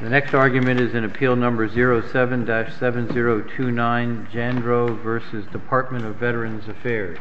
The next argument is in Appeal No. 07-7029, Jandreau v. Department of Veterans Affairs.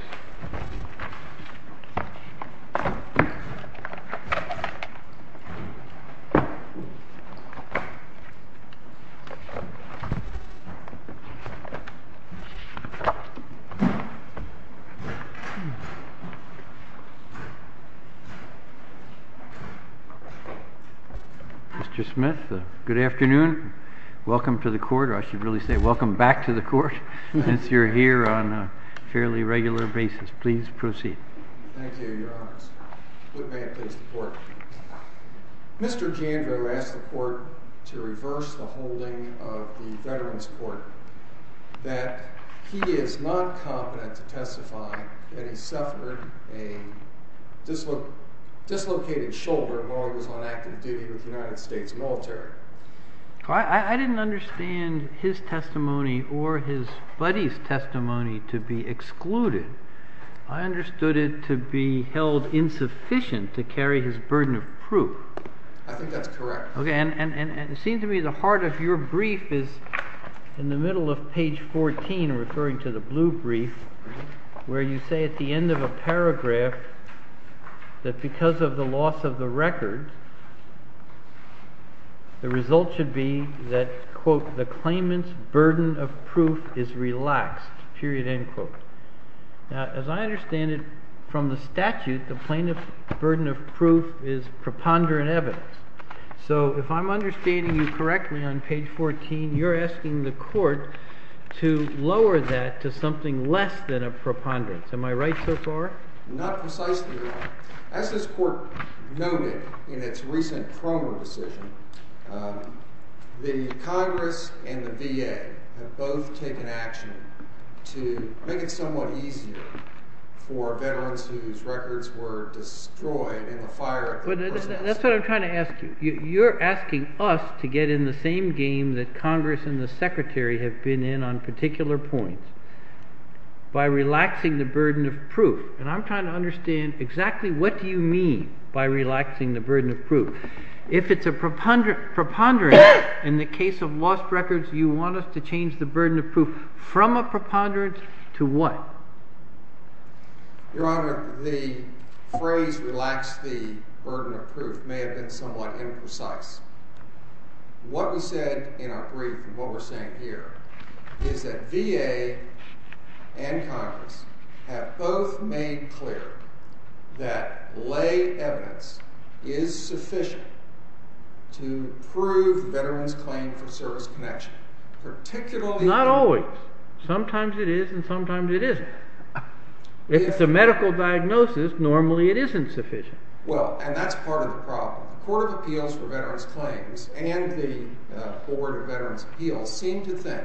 Mr. Jandreau asked the Court to reverse the holding of the Veterans Court that he is not competent to testify that he suffered a dislocated shoulder while he was on active duty. I didn't understand his testimony or his buddy's testimony to be excluded. I understood it to be held insufficient to carry his burden of proof. I think that's correct. And it seems to me the heart of your brief is in the middle of page 14, referring to the blue brief, where you say at the end of a paragraph that because of the loss of the record, the result should be that, quote, the claimant's burden of proof is relaxed, period, end quote. Now, as I understand it from the statute, the plaintiff's burden of proof is preponderant evidence. So if I'm understanding you correctly on page 14, you're asking the Court to lower that to something less than a preponderance. Am I right so far? Not precisely, Your Honor. As this Court noted in its recent promo decision, the Congress and the VA have both taken action to make it somewhat easier for veterans whose records were destroyed in the fire at the programs. But that's what I'm trying to ask you. You're asking us to get in the same game that Congress and the Secretary have been in on particular points by relaxing the burden of proof. And I'm trying to understand exactly what do you mean by relaxing the burden of proof. If it's a preponderance, in the case of lost records, you want us to change the burden of proof from a preponderance to what? Your Honor, the phrase relax the burden of proof may have been somewhat imprecise. What we said in our brief and what we're saying here is that VA and Congress have both made clear that lay evidence is sufficient to prove veterans' claim for service connection, particularly Not always. Sometimes it is and sometimes it isn't. If it's a medical diagnosis, normally it isn't sufficient. Well, and that's part of the problem. The Court of Appeals for Veterans Claims and the Board of Veterans Appeals seem to think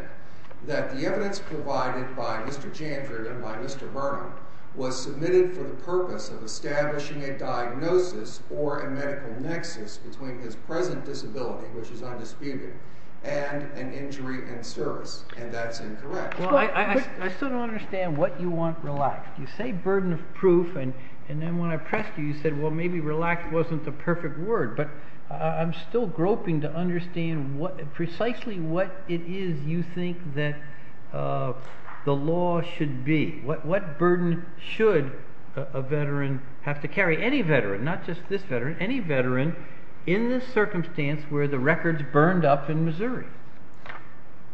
that the evidence provided by Mr. Jandred and by Mr. Burnham was submitted for the purpose of establishing a diagnosis or a medical nexus between his present disability, which is undisputed, and an injury in service. And that's incorrect. I still don't understand what you want relaxed. You say burden of proof, and then when I pressed you, you said, well, maybe relaxed wasn't the perfect word. But I'm still groping to understand precisely what it is you think that the law should be. What burden should a veteran have to carry, any veteran, not just this veteran, any veteran, in this circumstance where the record's burned up in Missouri?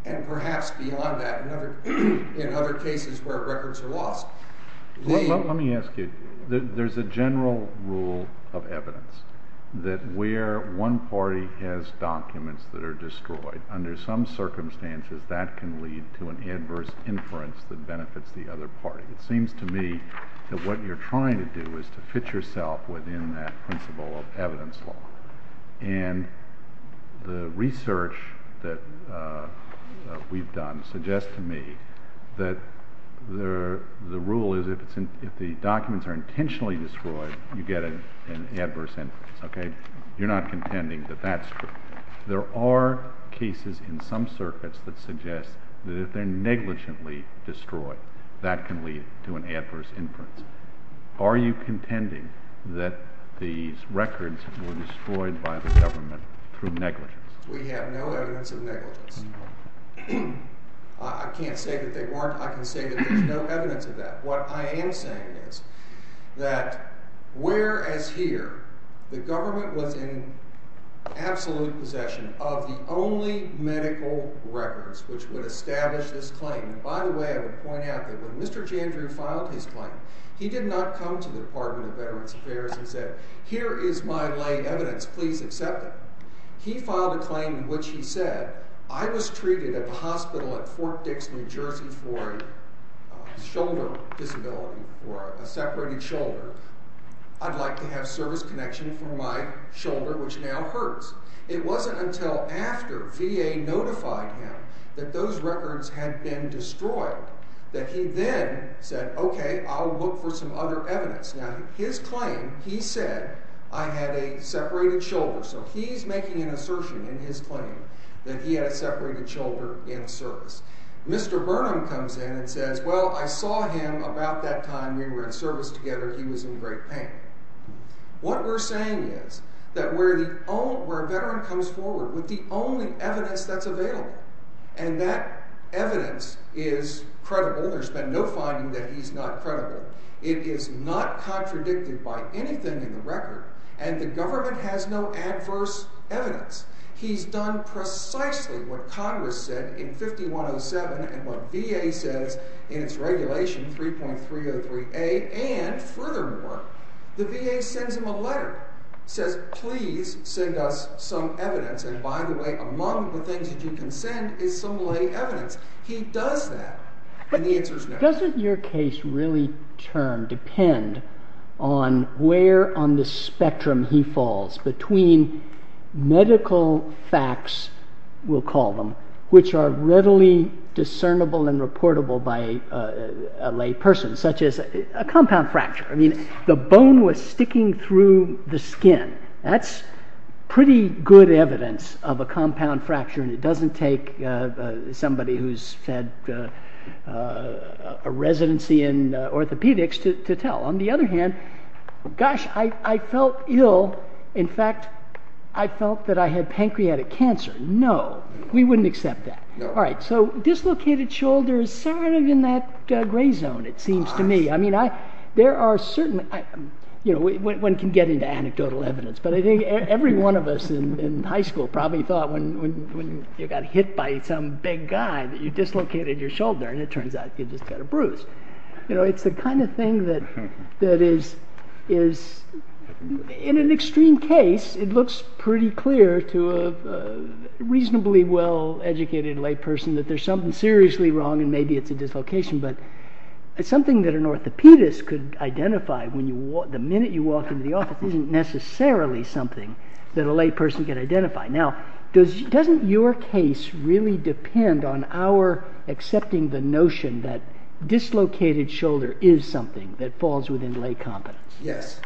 And perhaps beyond that, in other cases where records are lost. Let me ask you. There's a general rule of evidence that where one party has documents that are destroyed, under some circumstances that can lead to an adverse inference that benefits the other party. It seems to me that what you're trying to do is to fit yourself within that principle of evidence law. And the research that we've done suggests to me that the rule is if the documents are intentionally destroyed, you get an adverse inference. Okay? You're not contending that that's true. There are cases in some circuits that suggest that if they're negligently destroyed, that can lead to an adverse inference. Are you contending that these records were destroyed by the government through negligence? We have no evidence of negligence. I can't say that they weren't. I can say that there's no evidence of that. What I am saying is that whereas here, the government was in absolute possession of the only medical records which would establish this claim. And by the way, I would point out that when Mr. Jandrew filed his claim, he did not come to the Department of Veterans Affairs and said, Here is my lay evidence. Please accept it. He filed a claim in which he said, I was treated at the hospital at Fort Dix, New Jersey, for a shoulder disability or a separated shoulder. I'd like to have service connection for my shoulder, which now hurts. It wasn't until after VA notified him that those records had been destroyed that he then said, Okay, I'll look for some other evidence. Now, his claim, he said, I had a separated shoulder. So he's making an assertion in his claim that he had a separated shoulder in service. Mr. Burnham comes in and says, Well, I saw him about that time we were in service together. He was in great pain. What we're saying is that where a veteran comes forward with the only evidence that's available, and that evidence is credible, there's been no finding that he's not credible, it is not contradicted by anything in the record, and the government has no adverse evidence. He's done precisely what Congress said in 5107 and what VA says in its regulation 3.303A. And furthermore, the VA sends him a letter, says, Please send us some evidence. And by the way, among the things that you can send is some lay evidence. He does that, and the answer is no. So doesn't your case really depend on where on the spectrum he falls between medical facts, we'll call them, which are readily discernible and reportable by a lay person, such as a compound fracture. I mean, the bone was sticking through the skin. That's pretty good evidence of a compound fracture, and it doesn't take somebody who's had a residency in orthopedics to tell. On the other hand, gosh, I felt ill. In fact, I felt that I had pancreatic cancer. No, we wouldn't accept that. All right, so dislocated shoulder is sort of in that gray zone, it seems to me. I mean, there are certain, you know, one can get into anecdotal evidence, but I think every one of us in high school probably thought when you got hit by some big guy that you dislocated your shoulder, and it turns out you just got a bruise. You know, it's the kind of thing that is, in an extreme case, it looks pretty clear to a reasonably well-educated lay person that there's something seriously wrong, and maybe it's a dislocation, but it's something that an orthopedist could identify. The minute you walk into the office, it isn't necessarily something that a lay person could identify. Now, doesn't your case really depend on our accepting the notion that dislocated shoulder is something that falls within lay competence? Yes.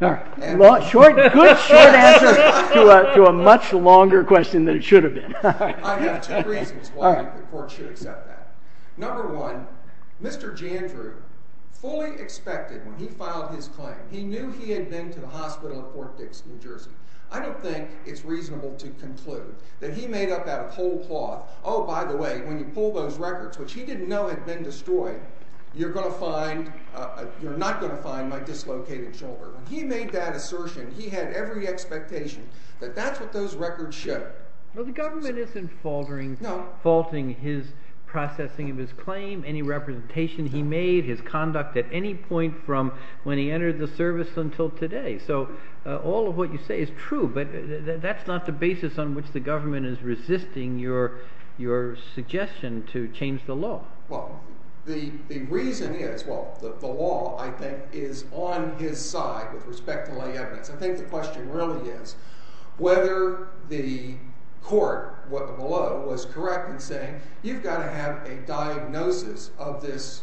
All right. Good short answer to a much longer question than it should have been. I have two reasons why the court should accept that. Number one, Mr. Jandreau, fully expected when he filed his claim, he knew he had been to the hospital at Fort Dix, New Jersey. I don't think it's reasonable to conclude that he made up out of cold cloth, oh, by the way, when you pull those records, which he didn't know had been destroyed, you're not going to find my dislocated shoulder. He made that assertion. He had every expectation that that's what those records show. Well, the government isn't faulting his processing of his claim, any representation he made, his conduct at any point from when he entered the service until today. So all of what you say is true, but that's not the basis on which the government is resisting your suggestion to change the law. Well, the reason is, well, the law, I think, is on his side with respect to lay evidence. I think the question really is whether the court below was correct in saying you've got to have a diagnosis of this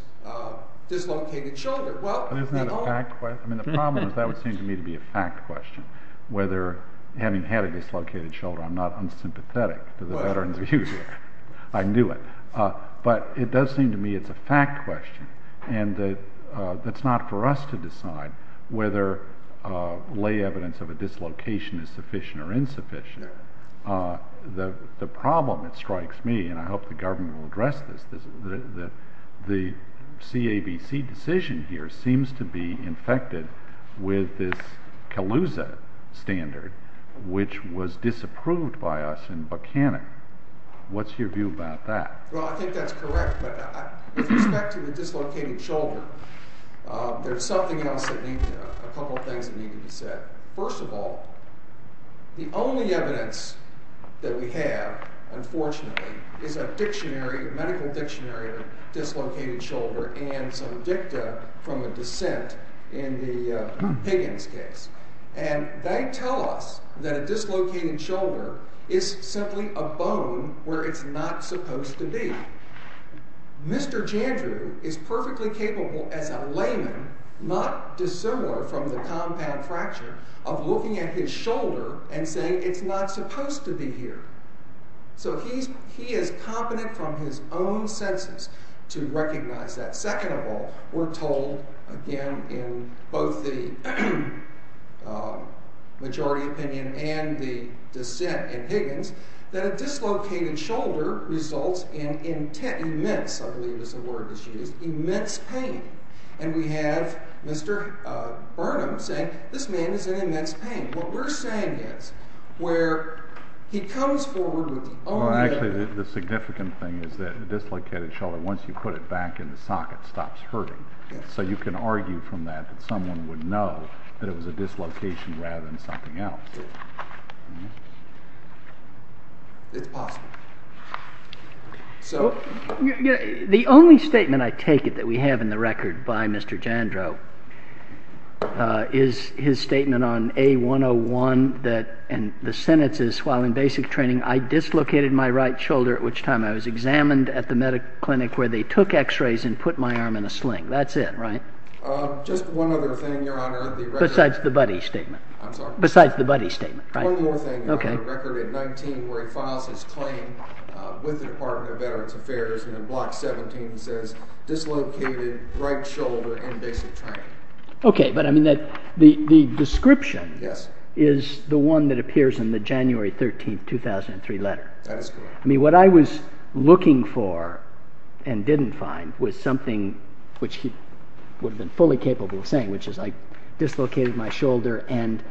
dislocated shoulder. Isn't that a fact question? I mean, the problem is that would seem to me to be a fact question, whether having had a dislocated shoulder I'm not unsympathetic to the veteran's views. I knew it. But it does seem to me it's a fact question, and that's not for us to decide whether lay evidence of a dislocation is sufficient or insufficient. The problem that strikes me, and I hope the government will address this, is that the CABC decision here seems to be infected with this CALUSA standard, which was disapproved by us in Buchanan. What's your view about that? Well, I think that's correct, but with respect to the dislocated shoulder, there's something else that needs, a couple of things that need to be said. First of all, the only evidence that we have, unfortunately, is a dictionary, a medical dictionary of dislocated shoulder and some dicta from a dissent in the Higgins case. And they tell us that a dislocated shoulder is simply a bone where it's not supposed to be. Mr. Jandrew is perfectly capable as a layman, not dissimilar from the compound fracture, of looking at his shoulder and saying it's not supposed to be here. So he is competent from his own senses to recognize that. Second of all, we're told, again, in both the majority opinion and the dissent in Higgins, that a dislocated shoulder results in immense, I believe is the word that's used, immense pain. And we have Mr. Burnham saying this man is in immense pain. What we're saying is, where he comes forward with the only- Well, actually, the significant thing is that a dislocated shoulder, once you put it back in the socket, stops hurting. So you can argue from that that someone would know that it was a dislocation rather than something else. It's possible. The only statement, I take it, that we have in the record by Mr. Jandrew is his statement on A101. And the sentence is, while in basic training, I dislocated my right shoulder at which time I was examined at the medical clinic where they took x-rays and put my arm in a sling. That's it, right? Just one other thing, Your Honor. Besides the buddy statement. I'm sorry? Besides the buddy statement, right? One more thing. I have a record at 19 where he files his claim with the Department of Veterans Affairs and in Block 17 says, dislocated right shoulder in basic training. Okay, but I mean the description is the one that appears in the January 13, 2003 letter. That is correct. I mean, what I was looking for and didn't find was something which he would have been fully capable of saying, which is I dislocated my shoulder and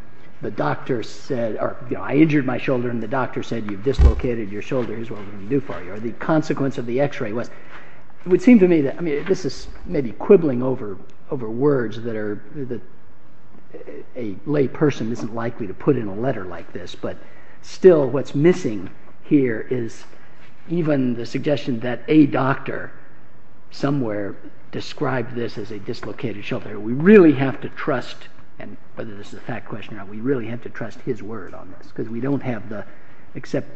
the doctor said, or I injured my shoulder and the doctor said you've dislocated your shoulder. Here's what we can do for you. Or the consequence of the x-ray was. It would seem to me that, I mean, this is maybe quibbling over words that a lay person isn't likely to put in a letter like this. But still what's missing here is even the suggestion that a doctor somewhere described this as a dislocated shoulder. We really have to trust, and whether this is a fact question or not, we really have to trust his word on this. Because we don't have the, except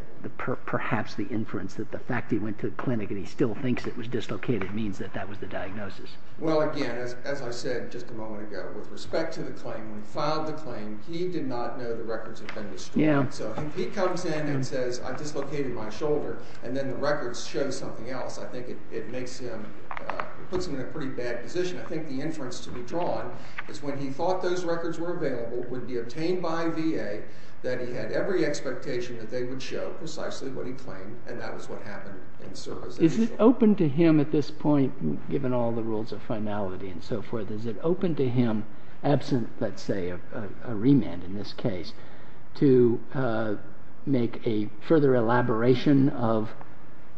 perhaps the inference that the fact that he went to the clinic and he still thinks it was dislocated means that that was the diagnosis. Well, again, as I said just a moment ago, with respect to the claim, when he filed the claim, he did not know the records had been destroyed. So if he comes in and says, I dislocated my shoulder, and then the records show something else, I think it makes him, it puts him in a pretty bad position. I think the inference to be drawn is when he thought those records were available, would be obtained by VA, that he had every expectation that they would show precisely what he claimed, and that was what happened in service. Is it open to him at this point, given all the rules of finality and so forth, is it open to him, absent, let's say, a remand in this case, to make a further elaboration of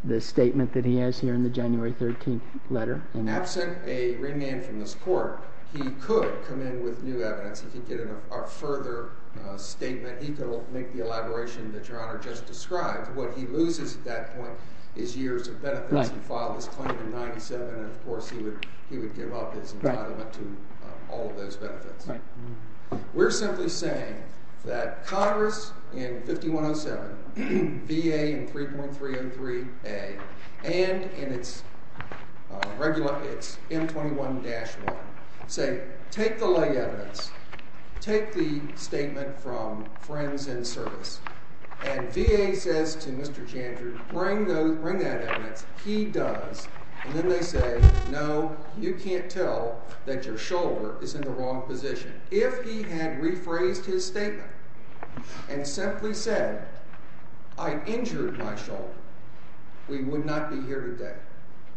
the statement that he has here in the January 13th letter? Absent a remand from this court, he could come in with new evidence. He could get a further statement. He could make the elaboration that Your Honor just described. What he loses at that point is years of benefits. He filed this claim in 97, and of course, he would give up his entitlement to all of those benefits. We're simply saying that Congress in 5107, VA in 3.303A, and in its M21-1, say take the lay evidence, take the statement from friends in service, and VA says to Mr. Jandrud, bring that evidence. He does, and then they say, no, you can't tell that your shoulder is in the wrong position. If he had rephrased his statement and simply said, I injured my shoulder, we would not be here today.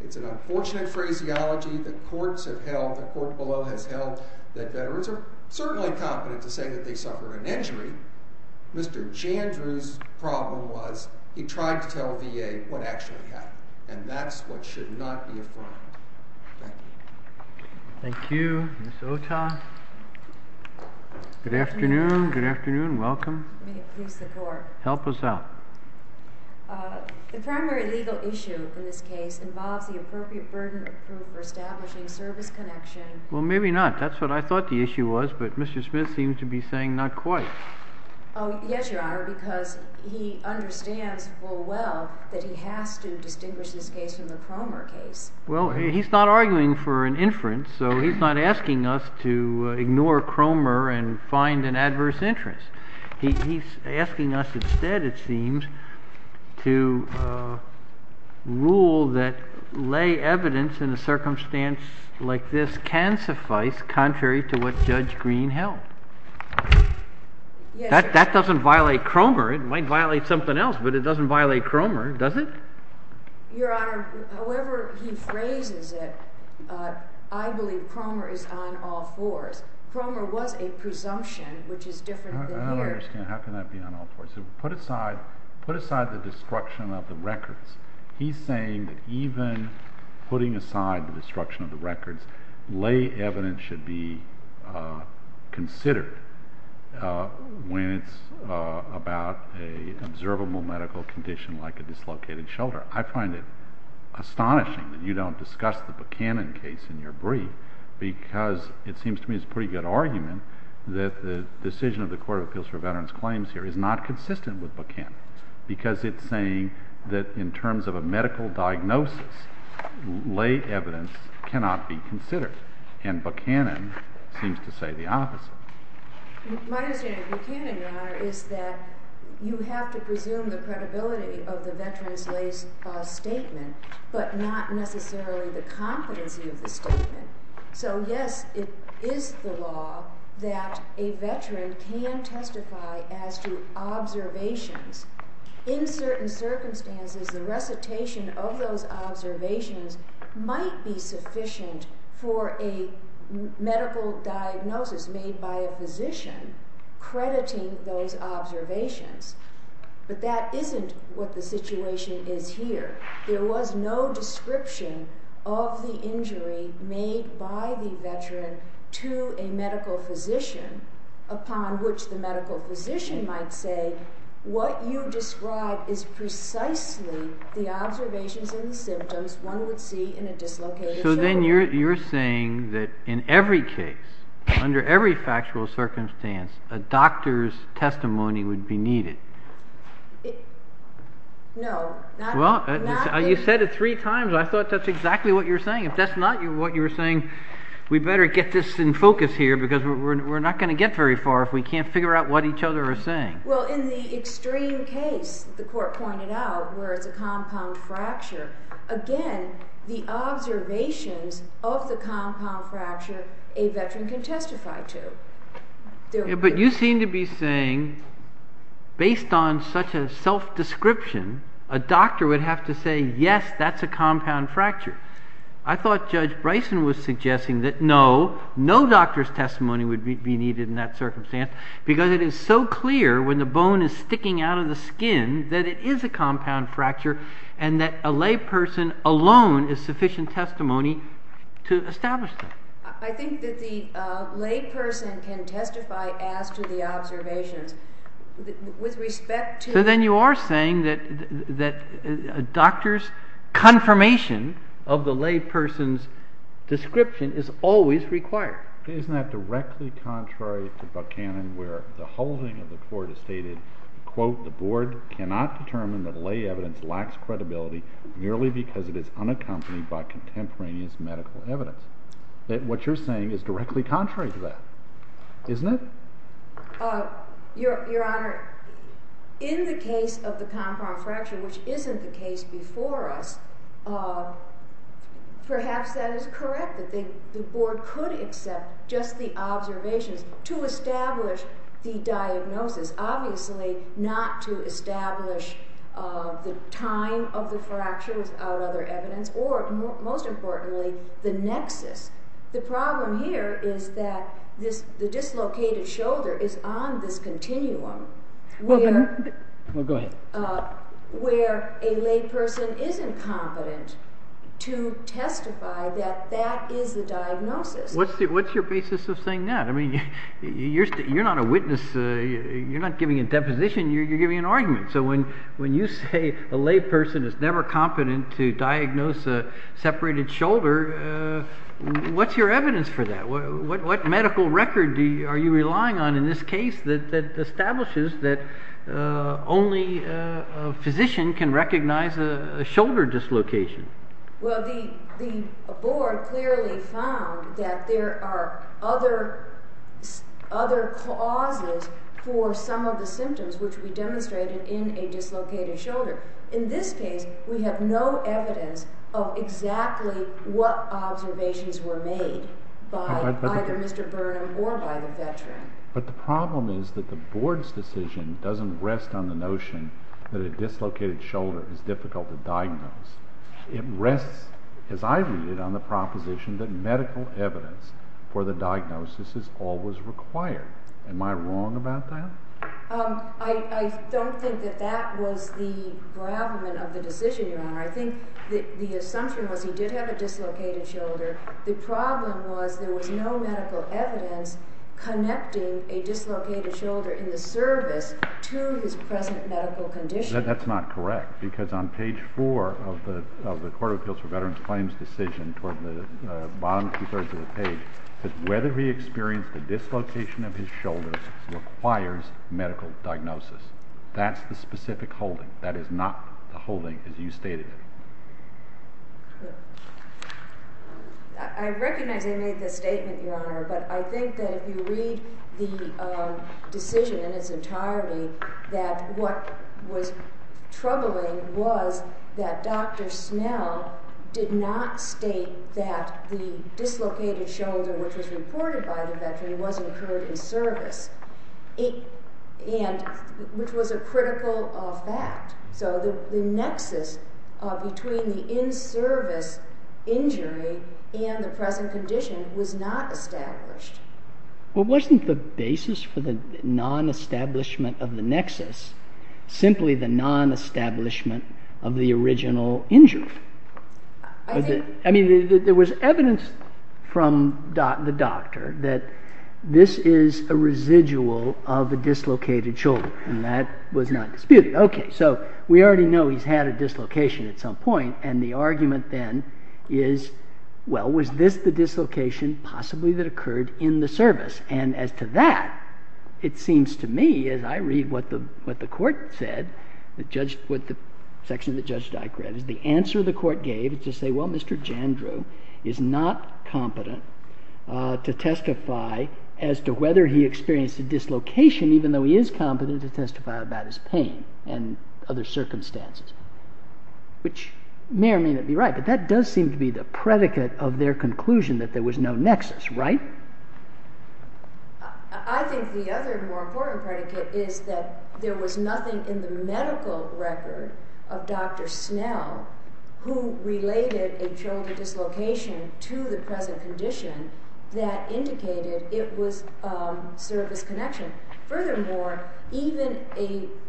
It's an unfortunate phraseology that courts have held, the court below has held, that veterans are certainly competent to say that they suffered an injury. Mr. Jandrud's problem was he tried to tell VA what actually happened, and that's what should not be affirmed. Thank you. Thank you. Ms. Ota. Good afternoon. Good afternoon. Welcome. May it please the Court. Help us out. The primary legal issue in this case involves the appropriate burden of proof for establishing service connection. Well, maybe not. That's what I thought the issue was, but Mr. Smith seems to be saying not quite. Oh, yes, Your Honor, because he understands full well that he has to distinguish this case from the Cromer case. Well, he's not arguing for an inference, so he's not asking us to ignore Cromer and find an adverse interest. He's asking us instead, it seems, to rule that lay evidence in a circumstance like this can suffice, contrary to what Judge Green held. That doesn't violate Cromer. It might violate something else, but it doesn't violate Cromer, does it? Your Honor, however he phrases it, I believe Cromer is on all fours. Cromer was a presumption, which is different than here. I don't understand. How can that be on all fours? Put aside the destruction of the records. He's saying that even putting aside the destruction of the records, lay evidence should be considered when it's about an observable medical condition like a dislocated shoulder. I find it astonishing that you don't discuss the Buchanan case in your brief, because it seems to me it's a pretty good argument that the decision of the Court of Appeals for Veterans Claims here is not consistent with Buchanan. Because it's saying that in terms of a medical diagnosis, lay evidence cannot be considered. And Buchanan seems to say the opposite. My understanding of Buchanan, Your Honor, is that you have to presume the credibility of the veteran's lay statement, but not necessarily the competency of the statement. So yes, it is the law that a veteran can testify as to observations. In certain circumstances, the recitation of those observations might be sufficient for a medical diagnosis made by a physician crediting those observations. But that isn't what the situation is here. There was no description of the injury made by the veteran to a medical physician, upon which the medical physician might say, what you describe is precisely the observations and the symptoms one would see in a dislocated shoulder. So then you're saying that in every case, under every factual circumstance, a doctor's testimony would be needed. No. Well, you said it three times. I thought that's exactly what you were saying. If that's not what you were saying, we better get this in focus here, because we're not going to get very far if we can't figure out what each other are saying. Well, in the extreme case the Court pointed out, where it's a compound fracture, again, the observations of the compound fracture, a veteran can testify to. But you seem to be saying, based on such a self-description, a doctor would have to say, yes, that's a compound fracture. I thought Judge Bryson was suggesting that no, no doctor's testimony would be needed in that circumstance, because it is so clear when the bone is sticking out of the skin that it is a compound fracture, and that a layperson alone is sufficient testimony to establish that. I think that the layperson can testify as to the observations. So then you are saying that a doctor's confirmation of the layperson's description is always required. Isn't that directly contrary to Buchanan, where the holding of the Court has stated, quote, the Board cannot determine that lay evidence lacks credibility merely because it is unaccompanied by contemporaneous medical evidence? That what you're saying is directly contrary to that, isn't it? Your Honor, in the case of the compound fracture, which isn't the case before us, perhaps that is correct, that the Board could accept just the observations to establish the diagnosis, obviously not to establish the time of the fracture without other evidence, or most importantly, the nexus. The problem here is that the dislocated shoulder is on this continuum where a layperson isn't competent to testify that that is the diagnosis. What's your basis of saying that? I mean, you're not a witness. You're not giving a deposition. You're giving an argument. So when you say a layperson is never competent to diagnose a separated shoulder, what's your evidence for that? What medical record are you relying on in this case that establishes that only a physician can recognize a shoulder dislocation? Well, the Board clearly found that there are other clauses for some of the symptoms which we demonstrated in a dislocated shoulder. In this case, we have no evidence of exactly what observations were made by either Mr. Burnham or by the veteran. But the problem is that the Board's decision doesn't rest on the notion that a dislocated shoulder is difficult to diagnose. It rests, as I read it, on the proposition that medical evidence for the diagnosis is always required. Am I wrong about that? I don't think that that was the gravamen of the decision, Your Honor. I think the assumption was he did have a dislocated shoulder. The problem was there was no medical evidence connecting a dislocated shoulder in the service to his present medical condition. That's not correct, because on page four of the Court of Appeals for Veterans Claims decision, toward the bottom two-thirds of the page, it says whether he experienced a dislocation of his shoulders requires medical diagnosis. That's the specific holding. That is not the holding as you stated it. I recognize I made this statement, Your Honor, but I think that if you read the decision in its entirety, that what was troubling was that Dr. Snell did not state that the dislocated shoulder, which was reported by the veteran, was incurred in service, which was a critical fact. So the nexus between the in-service injury and the present condition was not established. Well, wasn't the basis for the non-establishment of the nexus simply the non-establishment of the original injury? I mean, there was evidence from the doctor that this is a residual of a dislocated shoulder, and that was not disputed. OK, so we already know he's had a dislocation at some point, and the argument then is, well, was this the dislocation possibly that occurred in the service? And as to that, it seems to me, as I read what the court said, what the section that Judge Dyke read, the answer the court gave is to say, well, Mr. Jandreau is not competent to testify as to whether he experienced a dislocation, even though he is competent to testify about his pain and other circumstances, which may or may not be right. But that does seem to be the predicate of their conclusion that there was no nexus, right? I think the other more important predicate is that there was nothing in the medical record of Dr. Snell who related a shoulder dislocation to the present condition that indicated it was service connection. Furthermore, even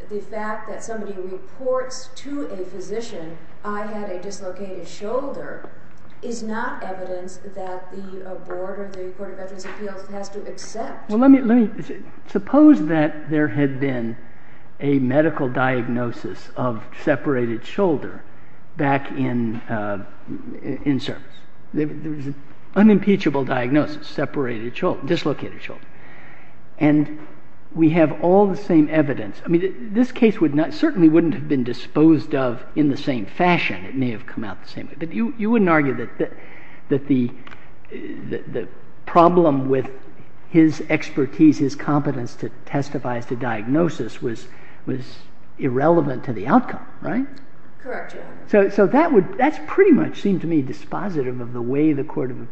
the fact that somebody reports to a physician, I had a dislocated shoulder, is not evidence that the board of the Court of Veterans' Appeals has to accept. Suppose that there had been a medical diagnosis of separated shoulder back in service. There was an unimpeachable diagnosis, dislocated shoulder. And we have all the same evidence. I mean, this case certainly wouldn't have been disposed of in the same fashion. It may have come out the same way. But you wouldn't argue that the problem with his expertise, his competence to testify as to diagnosis, was irrelevant to the outcome, right? Correct, Your Honor. So that's pretty much seemed to me dispositive of the way the Court of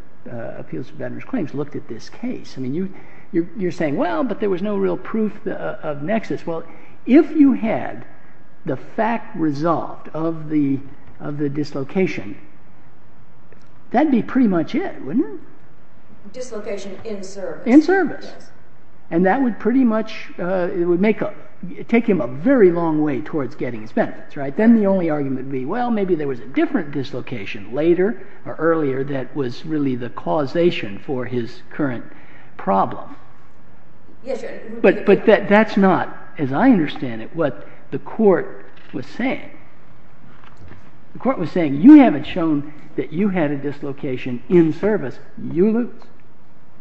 Appeals of Veterans' Claims looked at this case. I mean, you're saying, well, but there was no real proof of nexus. Well, if you had the fact resolved of the dislocation, that'd be pretty much it, wouldn't it? Dislocation in service. In service. And that would pretty much take him a very long way towards getting his benefits, right? Then the only argument would be, well, maybe there was a different dislocation later or earlier that was really the causation for his current problem. Yes, Your Honor. But that's not, as I understand it, what the court was saying. The court was saying, you haven't shown that you had a dislocation in service. You lose,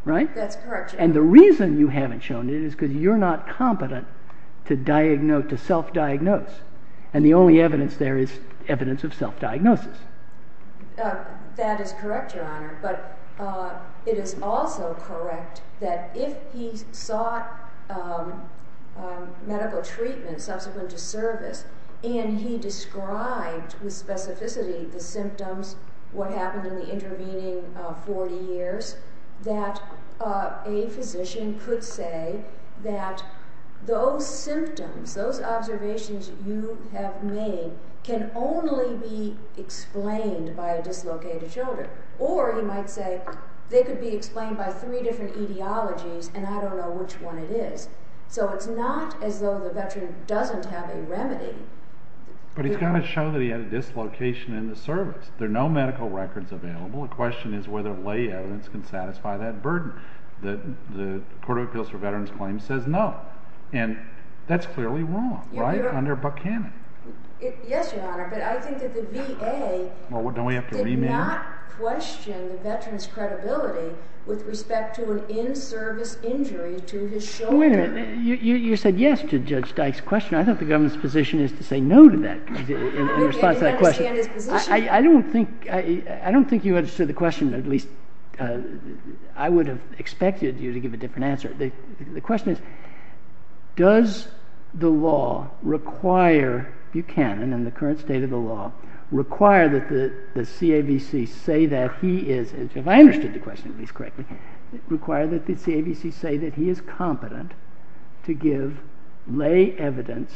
right? That's correct, Your Honor. And the reason you haven't shown it is because you're not competent to self-diagnose. And the only evidence there is evidence of self-diagnosis. That is correct, Your Honor. But it is also correct that if he sought medical treatment subsequent to service and he described with specificity the symptoms, what happened in the intervening 40 years, that a physician could say that those symptoms, those observations you have made, can only be explained by a dislocated shoulder. Or he might say they could be explained by three different etiologies and I don't know which one it is. So it's not as though the veteran doesn't have a remedy. But he's got to show that he had a dislocation in the service. There are no medical records available. The question is whether lay evidence can satisfy that burden. The Court of Appeals for Veterans Claims says no. And that's clearly wrong, right, under Buchanan. Yes, Your Honor. But I think that the VA did not question the veteran's credibility with respect to an in-service injury to his shoulder. Wait a minute. You said yes to Judge Dyke's question. I thought the government's position is to say no to that in response to that question. I don't think you understood the question, or at least I would have expected you to give a different answer. The question is does the law require Buchanan in the current state of the law require that the CAVC say that he is, if I understood the question at least correctly, require that the CAVC say that he is competent to give lay evidence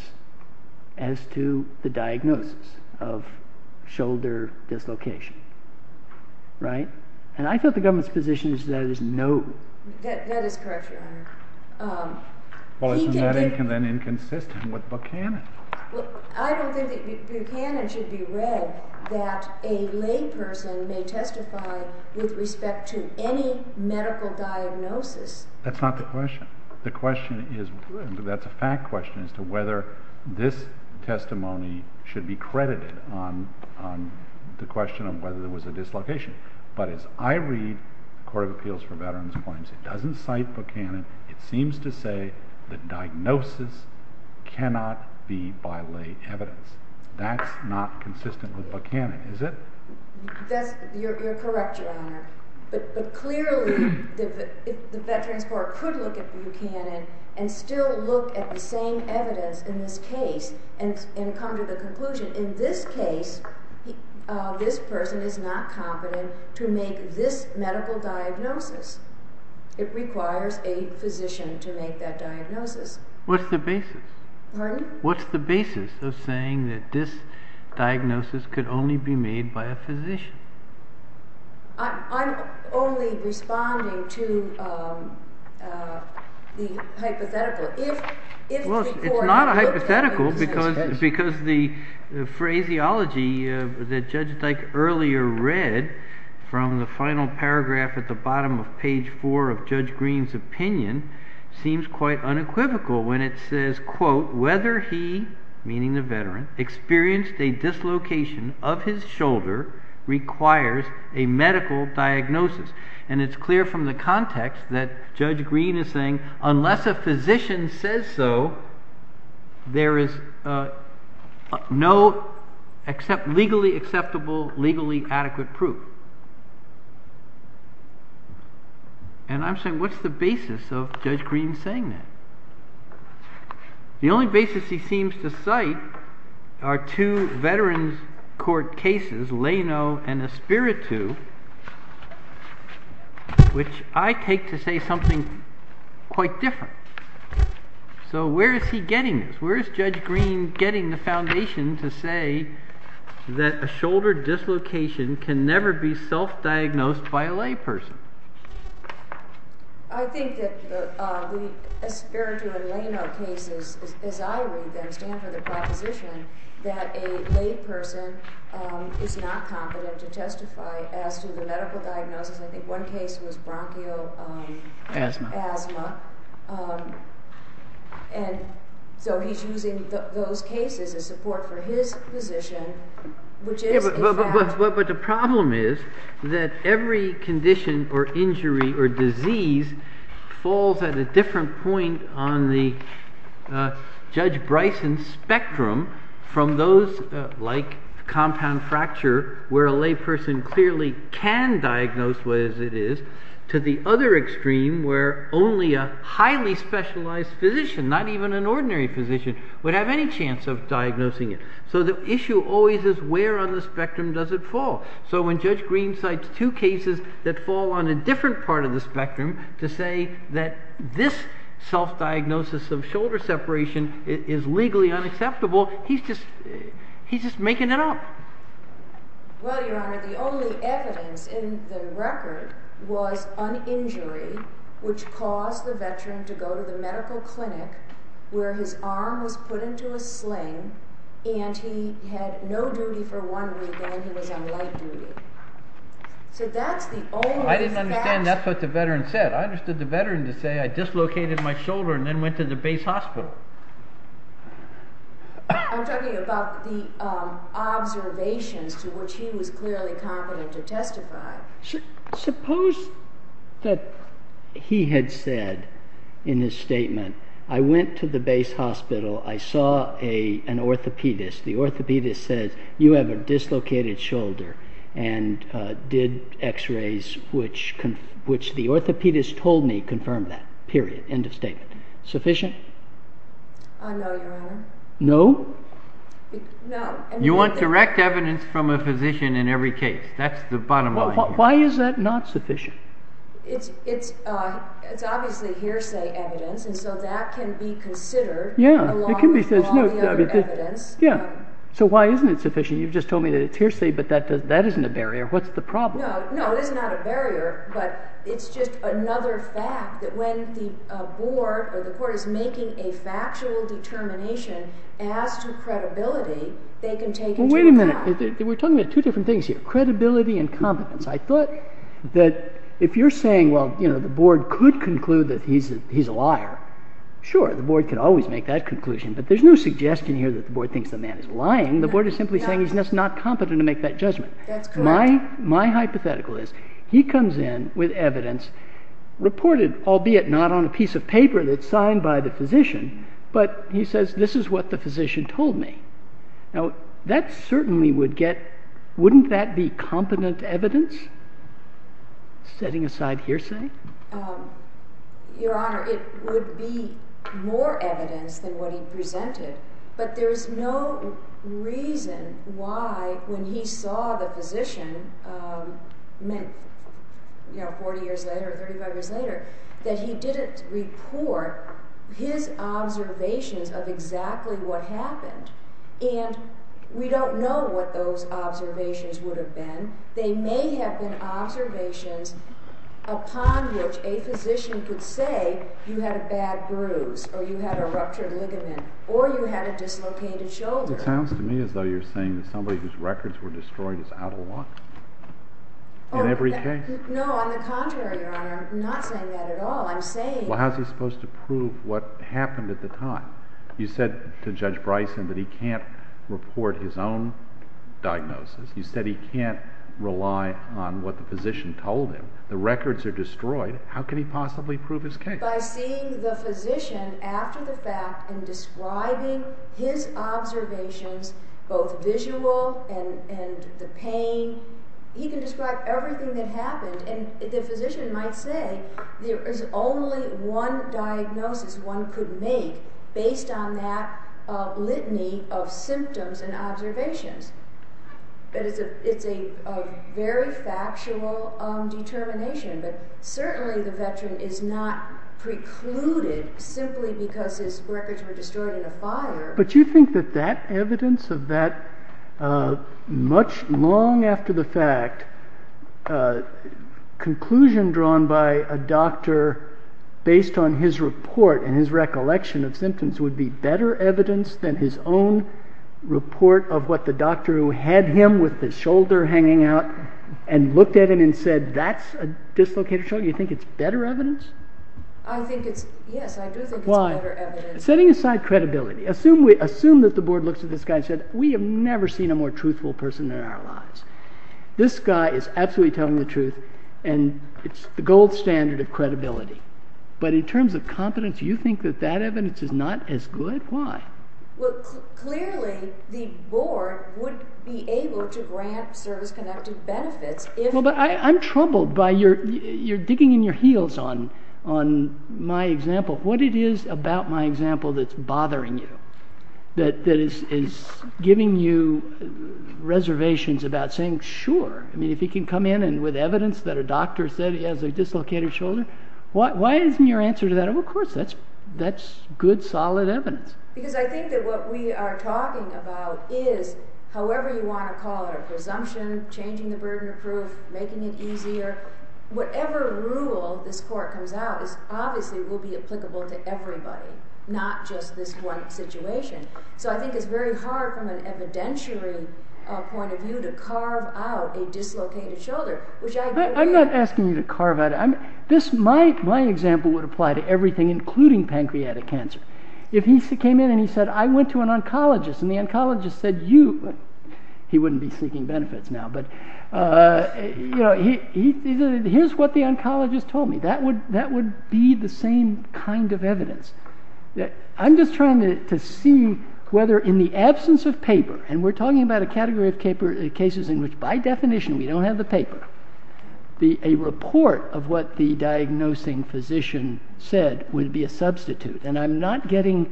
as to the diagnosis of shoulder dislocation, right? And I thought the government's position is that it is no. That is correct, Your Honor. Well, isn't that inconsistent with Buchanan? I don't think that Buchanan should be read that a lay person may testify with respect to any medical diagnosis. That's not the question. The question is, that's a fact question as to whether this testimony should be credited on the question of whether there was a dislocation. But as I read the Court of Appeals for Veterans claims, it doesn't cite Buchanan. It seems to say the diagnosis cannot be by lay evidence. That's not consistent with Buchanan, is it? You're correct, Your Honor. But clearly, the Veterans Court could look at Buchanan and still look at the same evidence in this case and come to the conclusion in this case, this person is not competent to make this medical diagnosis. It requires a physician to make that diagnosis. What's the basis? Pardon? What's the basis of saying that this diagnosis could only be made by a physician? I'm only responding to the hypothetical. Well, it's not a hypothetical because the phraseology that Judge Dyke earlier read from the final paragraph at the bottom of page 4 of Judge Green's opinion seems quite unequivocal when it says, quote, whether he, meaning the veteran, experienced a dislocation of his shoulder requires a medical diagnosis. And it's clear from the context that Judge Green is saying unless a physician says so, there is no legally acceptable, legally adequate proof. And I'm saying what's the basis of Judge Green saying that? The only basis he seems to cite are two Veterans Court cases, Lano and Espiritu, which I take to say something quite different. So where is he getting this? Where is Judge Green getting the foundation to say that a shoulder dislocation can never be self-diagnosed by a layperson? I think that the Espiritu and Lano cases, as I read them, stand for the proposition that a layperson is not competent to testify as to the medical diagnosis. I think one case was bronchial asthma. And so he's using those cases as support for his position, which is a fact. But the problem is that every condition or injury or disease falls at a different point on the Judge Bryson spectrum from those like compound fracture, where a layperson clearly can diagnose what it is, to the other extreme where only a highly specialized physician, not even an ordinary physician, would have any chance of diagnosing it. So the issue always is where on the spectrum does it fall? So when Judge Green cites two cases that fall on a different part of the spectrum to say that this self-diagnosis of shoulder separation is legally unacceptable, he's just making it up. Well, Your Honor, the only evidence in the record was an injury which caused the veteran to go to the medical clinic where his arm was put into a sling and he had no duty for one week and he was on light duty. I didn't understand that's what the veteran said. I understood the veteran to say I dislocated my shoulder and then went to the base hospital. I'm talking about the observations to which he was clearly competent to testify. Suppose that he had said in his statement, I went to the base hospital, I saw an orthopedist. The orthopedist said you have a dislocated shoulder and did x-rays which the orthopedist told me confirmed that. Period. End of statement. Sufficient? No, Your Honor. No? No. You want direct evidence from a physician in every case. That's the bottom line. Why is that not sufficient? It's obviously hearsay evidence and so that can be considered along with all the other evidence. Yeah. So why isn't it sufficient? You've just told me that it's hearsay but that isn't a barrier. What's the problem? No, it is not a barrier but it's just another fact that when the board or the court is making a factual determination as to credibility, they can take it to account. Wait a minute. We're talking about two different things here. Credibility and competence. I thought that if you're saying the board could conclude that he's a liar, sure, the board could always make that conclusion but there's no suggestion here that the board thinks the man is lying. The board is simply saying he's just not competent to make that judgment. That's correct. My hypothetical is he comes in with evidence reported, albeit not on a piece of paper that's signed by the physician, but he says this is what the physician told me. Now that certainly would get, wouldn't that be competent evidence setting aside hearsay? Your Honor, it would be more evidence than what he presented but there's no reason why when he saw the physician, I mean, you know, 40 years later or 35 years later, that he didn't report his observations of exactly what happened and we don't know what those observations would have been. They may have been observations upon which a physician could say you had a bad bruise or you had a ruptured ligament or you had a dislocated shoulder. It sounds to me as though you're saying that somebody whose records were destroyed is out of luck in every case. No, on the contrary, Your Honor, I'm not saying that at all. I'm saying... Well, how's he supposed to prove what happened at the time? You said to Judge Bryson that he can't report his own diagnosis. You said he can't rely on what the physician told him. The records are destroyed. How can he possibly prove his case? By seeing the physician after the fact and describing his observations, both visual and the pain, he can describe everything that happened and the physician might say there is only one diagnosis one could make based on that litany of symptoms and observations. It's a very factual determination, but certainly the veteran is not precluded simply because his records were destroyed in a fire. But you think that that evidence of that much long after the fact, conclusion drawn by a doctor based on his report and his recollection of symptoms would be better evidence than his own report of what the doctor who had him with his shoulder hanging out and looked at him and said, that's a dislocated shoulder, you think it's better evidence? I think it's, yes, I do think it's better evidence. Setting aside credibility, assume that the board looks at this guy and said, we have never seen a more truthful person in our lives. This guy is absolutely telling the truth and it's the gold standard of credibility. But in terms of competence, you think that that evidence is not as good? Why? Well, clearly the board would be able to grant service-connected benefits. But I'm troubled by your digging in your heels on my example. What it is about my example that's bothering you, that is giving you reservations about saying, sure, if he can come in with evidence that a doctor said he has a dislocated shoulder, why isn't your answer to that, then of course that's good, solid evidence. Because I think that what we are talking about is, however you want to call it, presumption, changing the burden of proof, making it easier, whatever rule this court comes out with obviously will be applicable to everybody, not just this one situation. So I think it's very hard from an evidentiary point of view to carve out a dislocated shoulder. I'm not asking you to carve it out. My example would apply to everything, including pancreatic cancer. If he came in and he said, I went to an oncologist, and the oncologist said, you, he wouldn't be seeking benefits now, but here's what the oncologist told me, that would be the same kind of evidence. I'm just trying to see whether in the absence of paper, and we're talking about a category of cases in which by definition we don't have the paper, a report of what the diagnosing physician said would be a substitute. And I'm not getting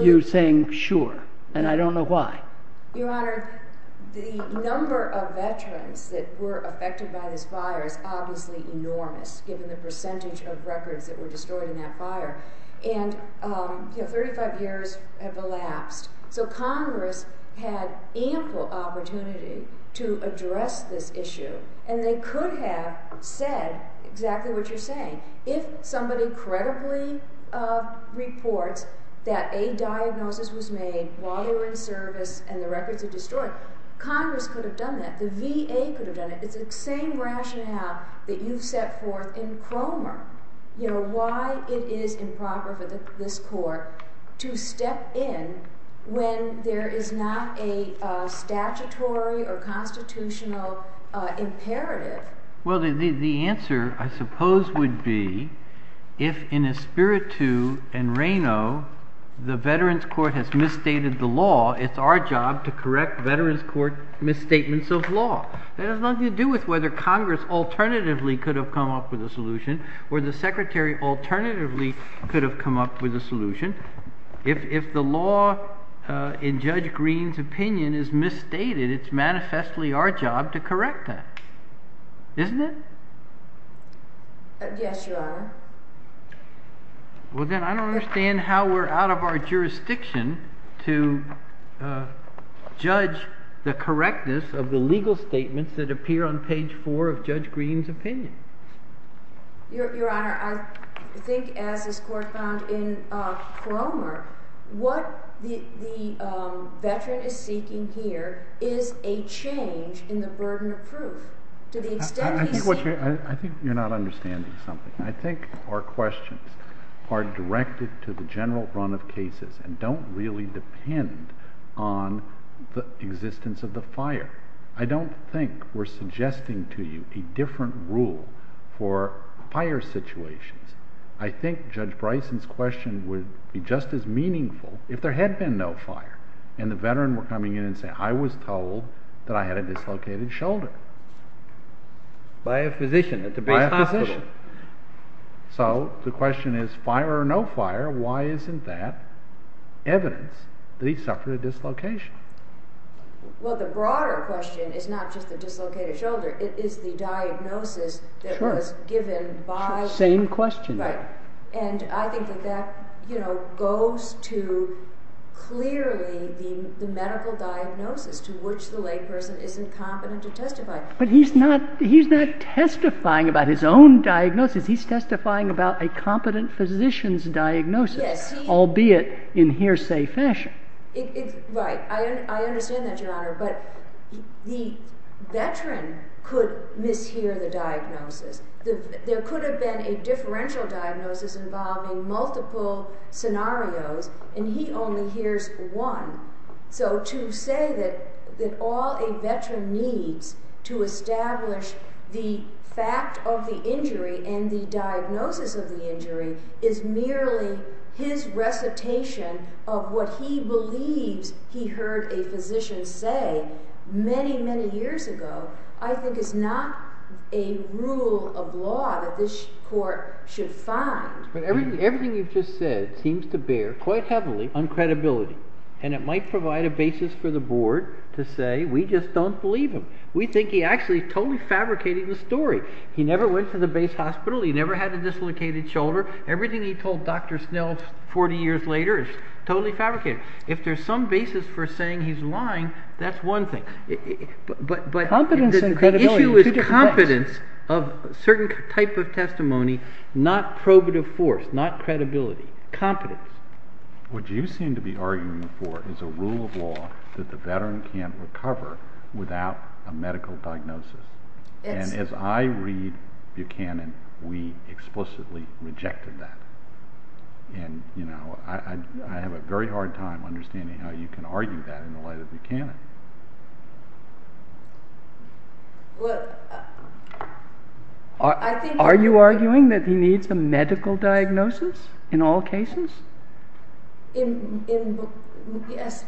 you saying sure, and I don't know why. Your Honor, the number of veterans that were affected by this fire is obviously enormous, given the percentage of records that were destroyed in that fire. And 35 years have elapsed. So Congress had ample opportunity to address this issue, and they could have said exactly what you're saying. If somebody credibly reports that a diagnosis was made while they were in service and the records were destroyed, Congress could have done that. The VA could have done it. It's the same rationale that you've set forth in Cromer. Why it is improper for this court to step in when there is not a statutory or constitutional imperative. Well, the answer I suppose would be, if in Espiritu and Reno the Veterans Court has misstated the law, it's our job to correct Veterans Court misstatements of law. That has nothing to do with whether Congress alternatively could have come up with a solution, or the Secretary alternatively could have come up with a solution. If the law in Judge Greene's opinion is misstated, it's manifestly our job to correct that. Isn't it? Yes, Your Honor. Well, then I don't understand how we're out of our jurisdiction to judge the correctness of the legal statements that appear on page four of Judge Greene's opinion. Your Honor, I think as this Court found in Cromer, what the Veteran is seeking here is a change in the burden of proof. I think you're not understanding something. I think our questions are directed to the general run of cases and don't really depend on the existence of the fire. I don't think we're suggesting to you a different rule for fire situations. I think Judge Bryson's question would be just as meaningful if there had been no fire and the Veteran were coming in and saying, I was told that I had a dislocated shoulder. By a physician at the Bay Hospital. By a physician. So the question is, fire or no fire, why isn't that evidence that he suffered a dislocation? Well, the broader question is not just the dislocated shoulder, it is the diagnosis that was given by... Same question. Right. And I think that that goes to clearly the medical diagnosis to which the layperson isn't competent to testify. But he's not testifying about his own diagnosis. He's testifying about a competent physician's diagnosis. Yes. Albeit in hearsay fashion. Right. I understand that, Your Honor. But the Veteran could mishear the diagnosis. There could have been a differential diagnosis involving multiple scenarios, and he only hears one. So to say that all a Veteran needs to establish the fact of the injury and the diagnosis of the injury is merely his recitation of what he believes he heard a physician say many, many years ago, I think is not a rule of law that this Court should find. But everything you've just said seems to bear quite heavily on credibility. And it might provide a basis for the Board to say, we just don't believe him. We think he actually totally fabricated the story. He never went to the Bay Hospital. He never had a dislocated shoulder. Everything he told Dr. Snell 40 years later is totally fabricated. If there's some basis for saying he's lying, that's one thing. But the issue is confidence of a certain type of testimony, not probative force, not credibility. Competence. What you seem to be arguing for is a rule of law that the Veteran can't recover without a medical diagnosis. And as I read Buchanan, we explicitly rejected that. And I have a very hard time understanding how you can argue that in the light of Buchanan. Are you arguing that he needs a medical diagnosis in all cases? Yes.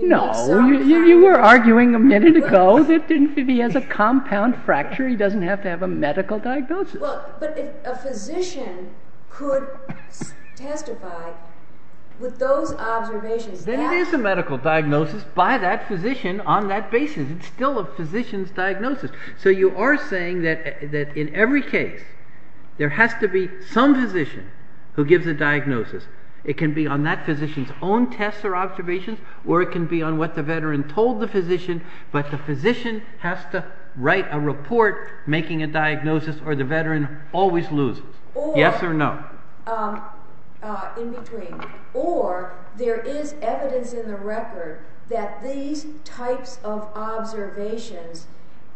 No, you were arguing a minute ago that if he has a compound fracture, he doesn't have to have a medical diagnosis. But if a physician could testify with those observations, then it is a medical diagnosis by that physician on that basis. It's still a physician's diagnosis. So you are saying that in every case, there has to be some physician who gives a diagnosis. It can be on that physician's own tests or observations, or it can be on what the Veteran told the physician, but the physician has to write a report making a diagnosis or the Veteran always loses. Yes or no? In between. Or there is evidence in the record that these types of observations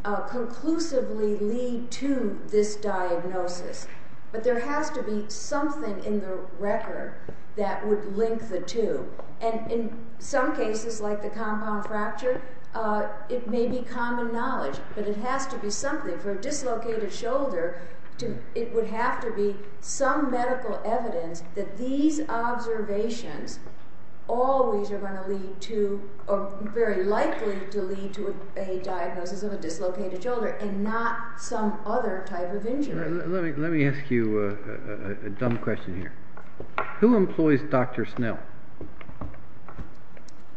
conclusively lead to this diagnosis. But there has to be something in the record that would link the two. And in some cases, like the compound fracture, it may be common knowledge, but it has to be something. For a dislocated shoulder, it would have to be some medical evidence that these observations always are going to lead to or are very likely to lead to a diagnosis of a dislocated shoulder and not some other type of injury. Let me ask you a dumb question here. Who employs Dr. Snell?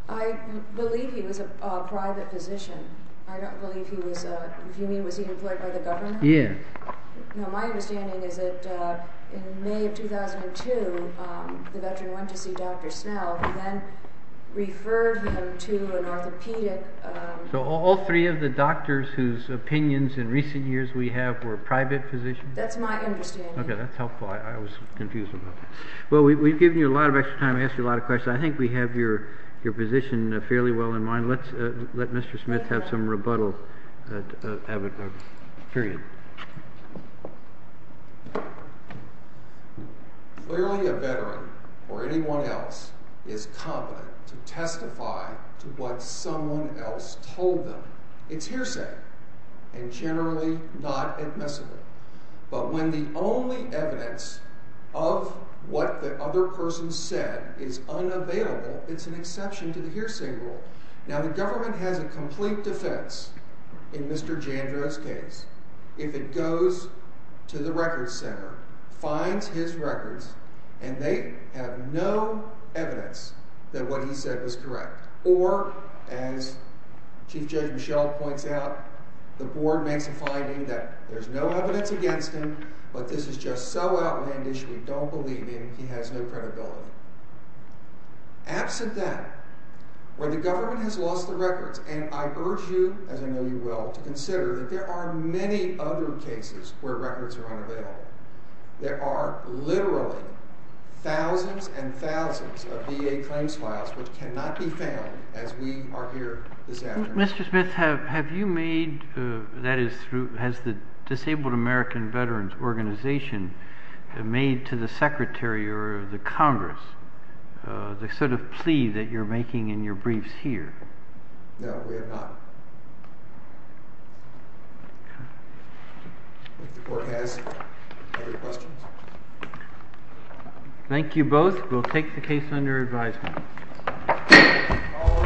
I believe he was a private physician. I don't believe he was a... Do you mean was he employed by the government? Yes. My understanding is that in May of 2002, the Veteran went to see Dr. Snell and then referred him to an orthopedic... So all three of the doctors whose opinions in recent years we have were private physicians? That's my understanding. Okay, that's helpful. I was confused about that. Well, we've given you a lot of extra time. I asked you a lot of questions. I think we have your position fairly well in mind. Let's let Mr. Smith have some rebuttal. Period. Clearly a Veteran or anyone else is competent to testify to what someone else told them. It's hearsay and generally not admissible. But when the only evidence of what the other person said is unavailable, it's an exception to the hearsay rule. Now, the government has a complete defense in Mr. Jandro's case if it goes to the records center, finds his records, and they have no evidence that what he said was correct. Or, as Chief Judge Michel points out, the board makes a finding that there's no evidence against him, but this is just so outlandish we don't believe him, he has no credibility. Absent that, when the government has lost the records, and I urge you, as I know you will, to consider that there are many other cases where records are unavailable. There are literally thousands and thousands of VA claims files which cannot be found as we are here this afternoon. Mr. Smith, have you made, that is, has the Disabled American Veterans Organization made to the Secretary or the Congress the sort of plea that you're making in your briefs here? No, we have not. If the court has any questions. Thank you both. We'll take the case under advisement. All rise.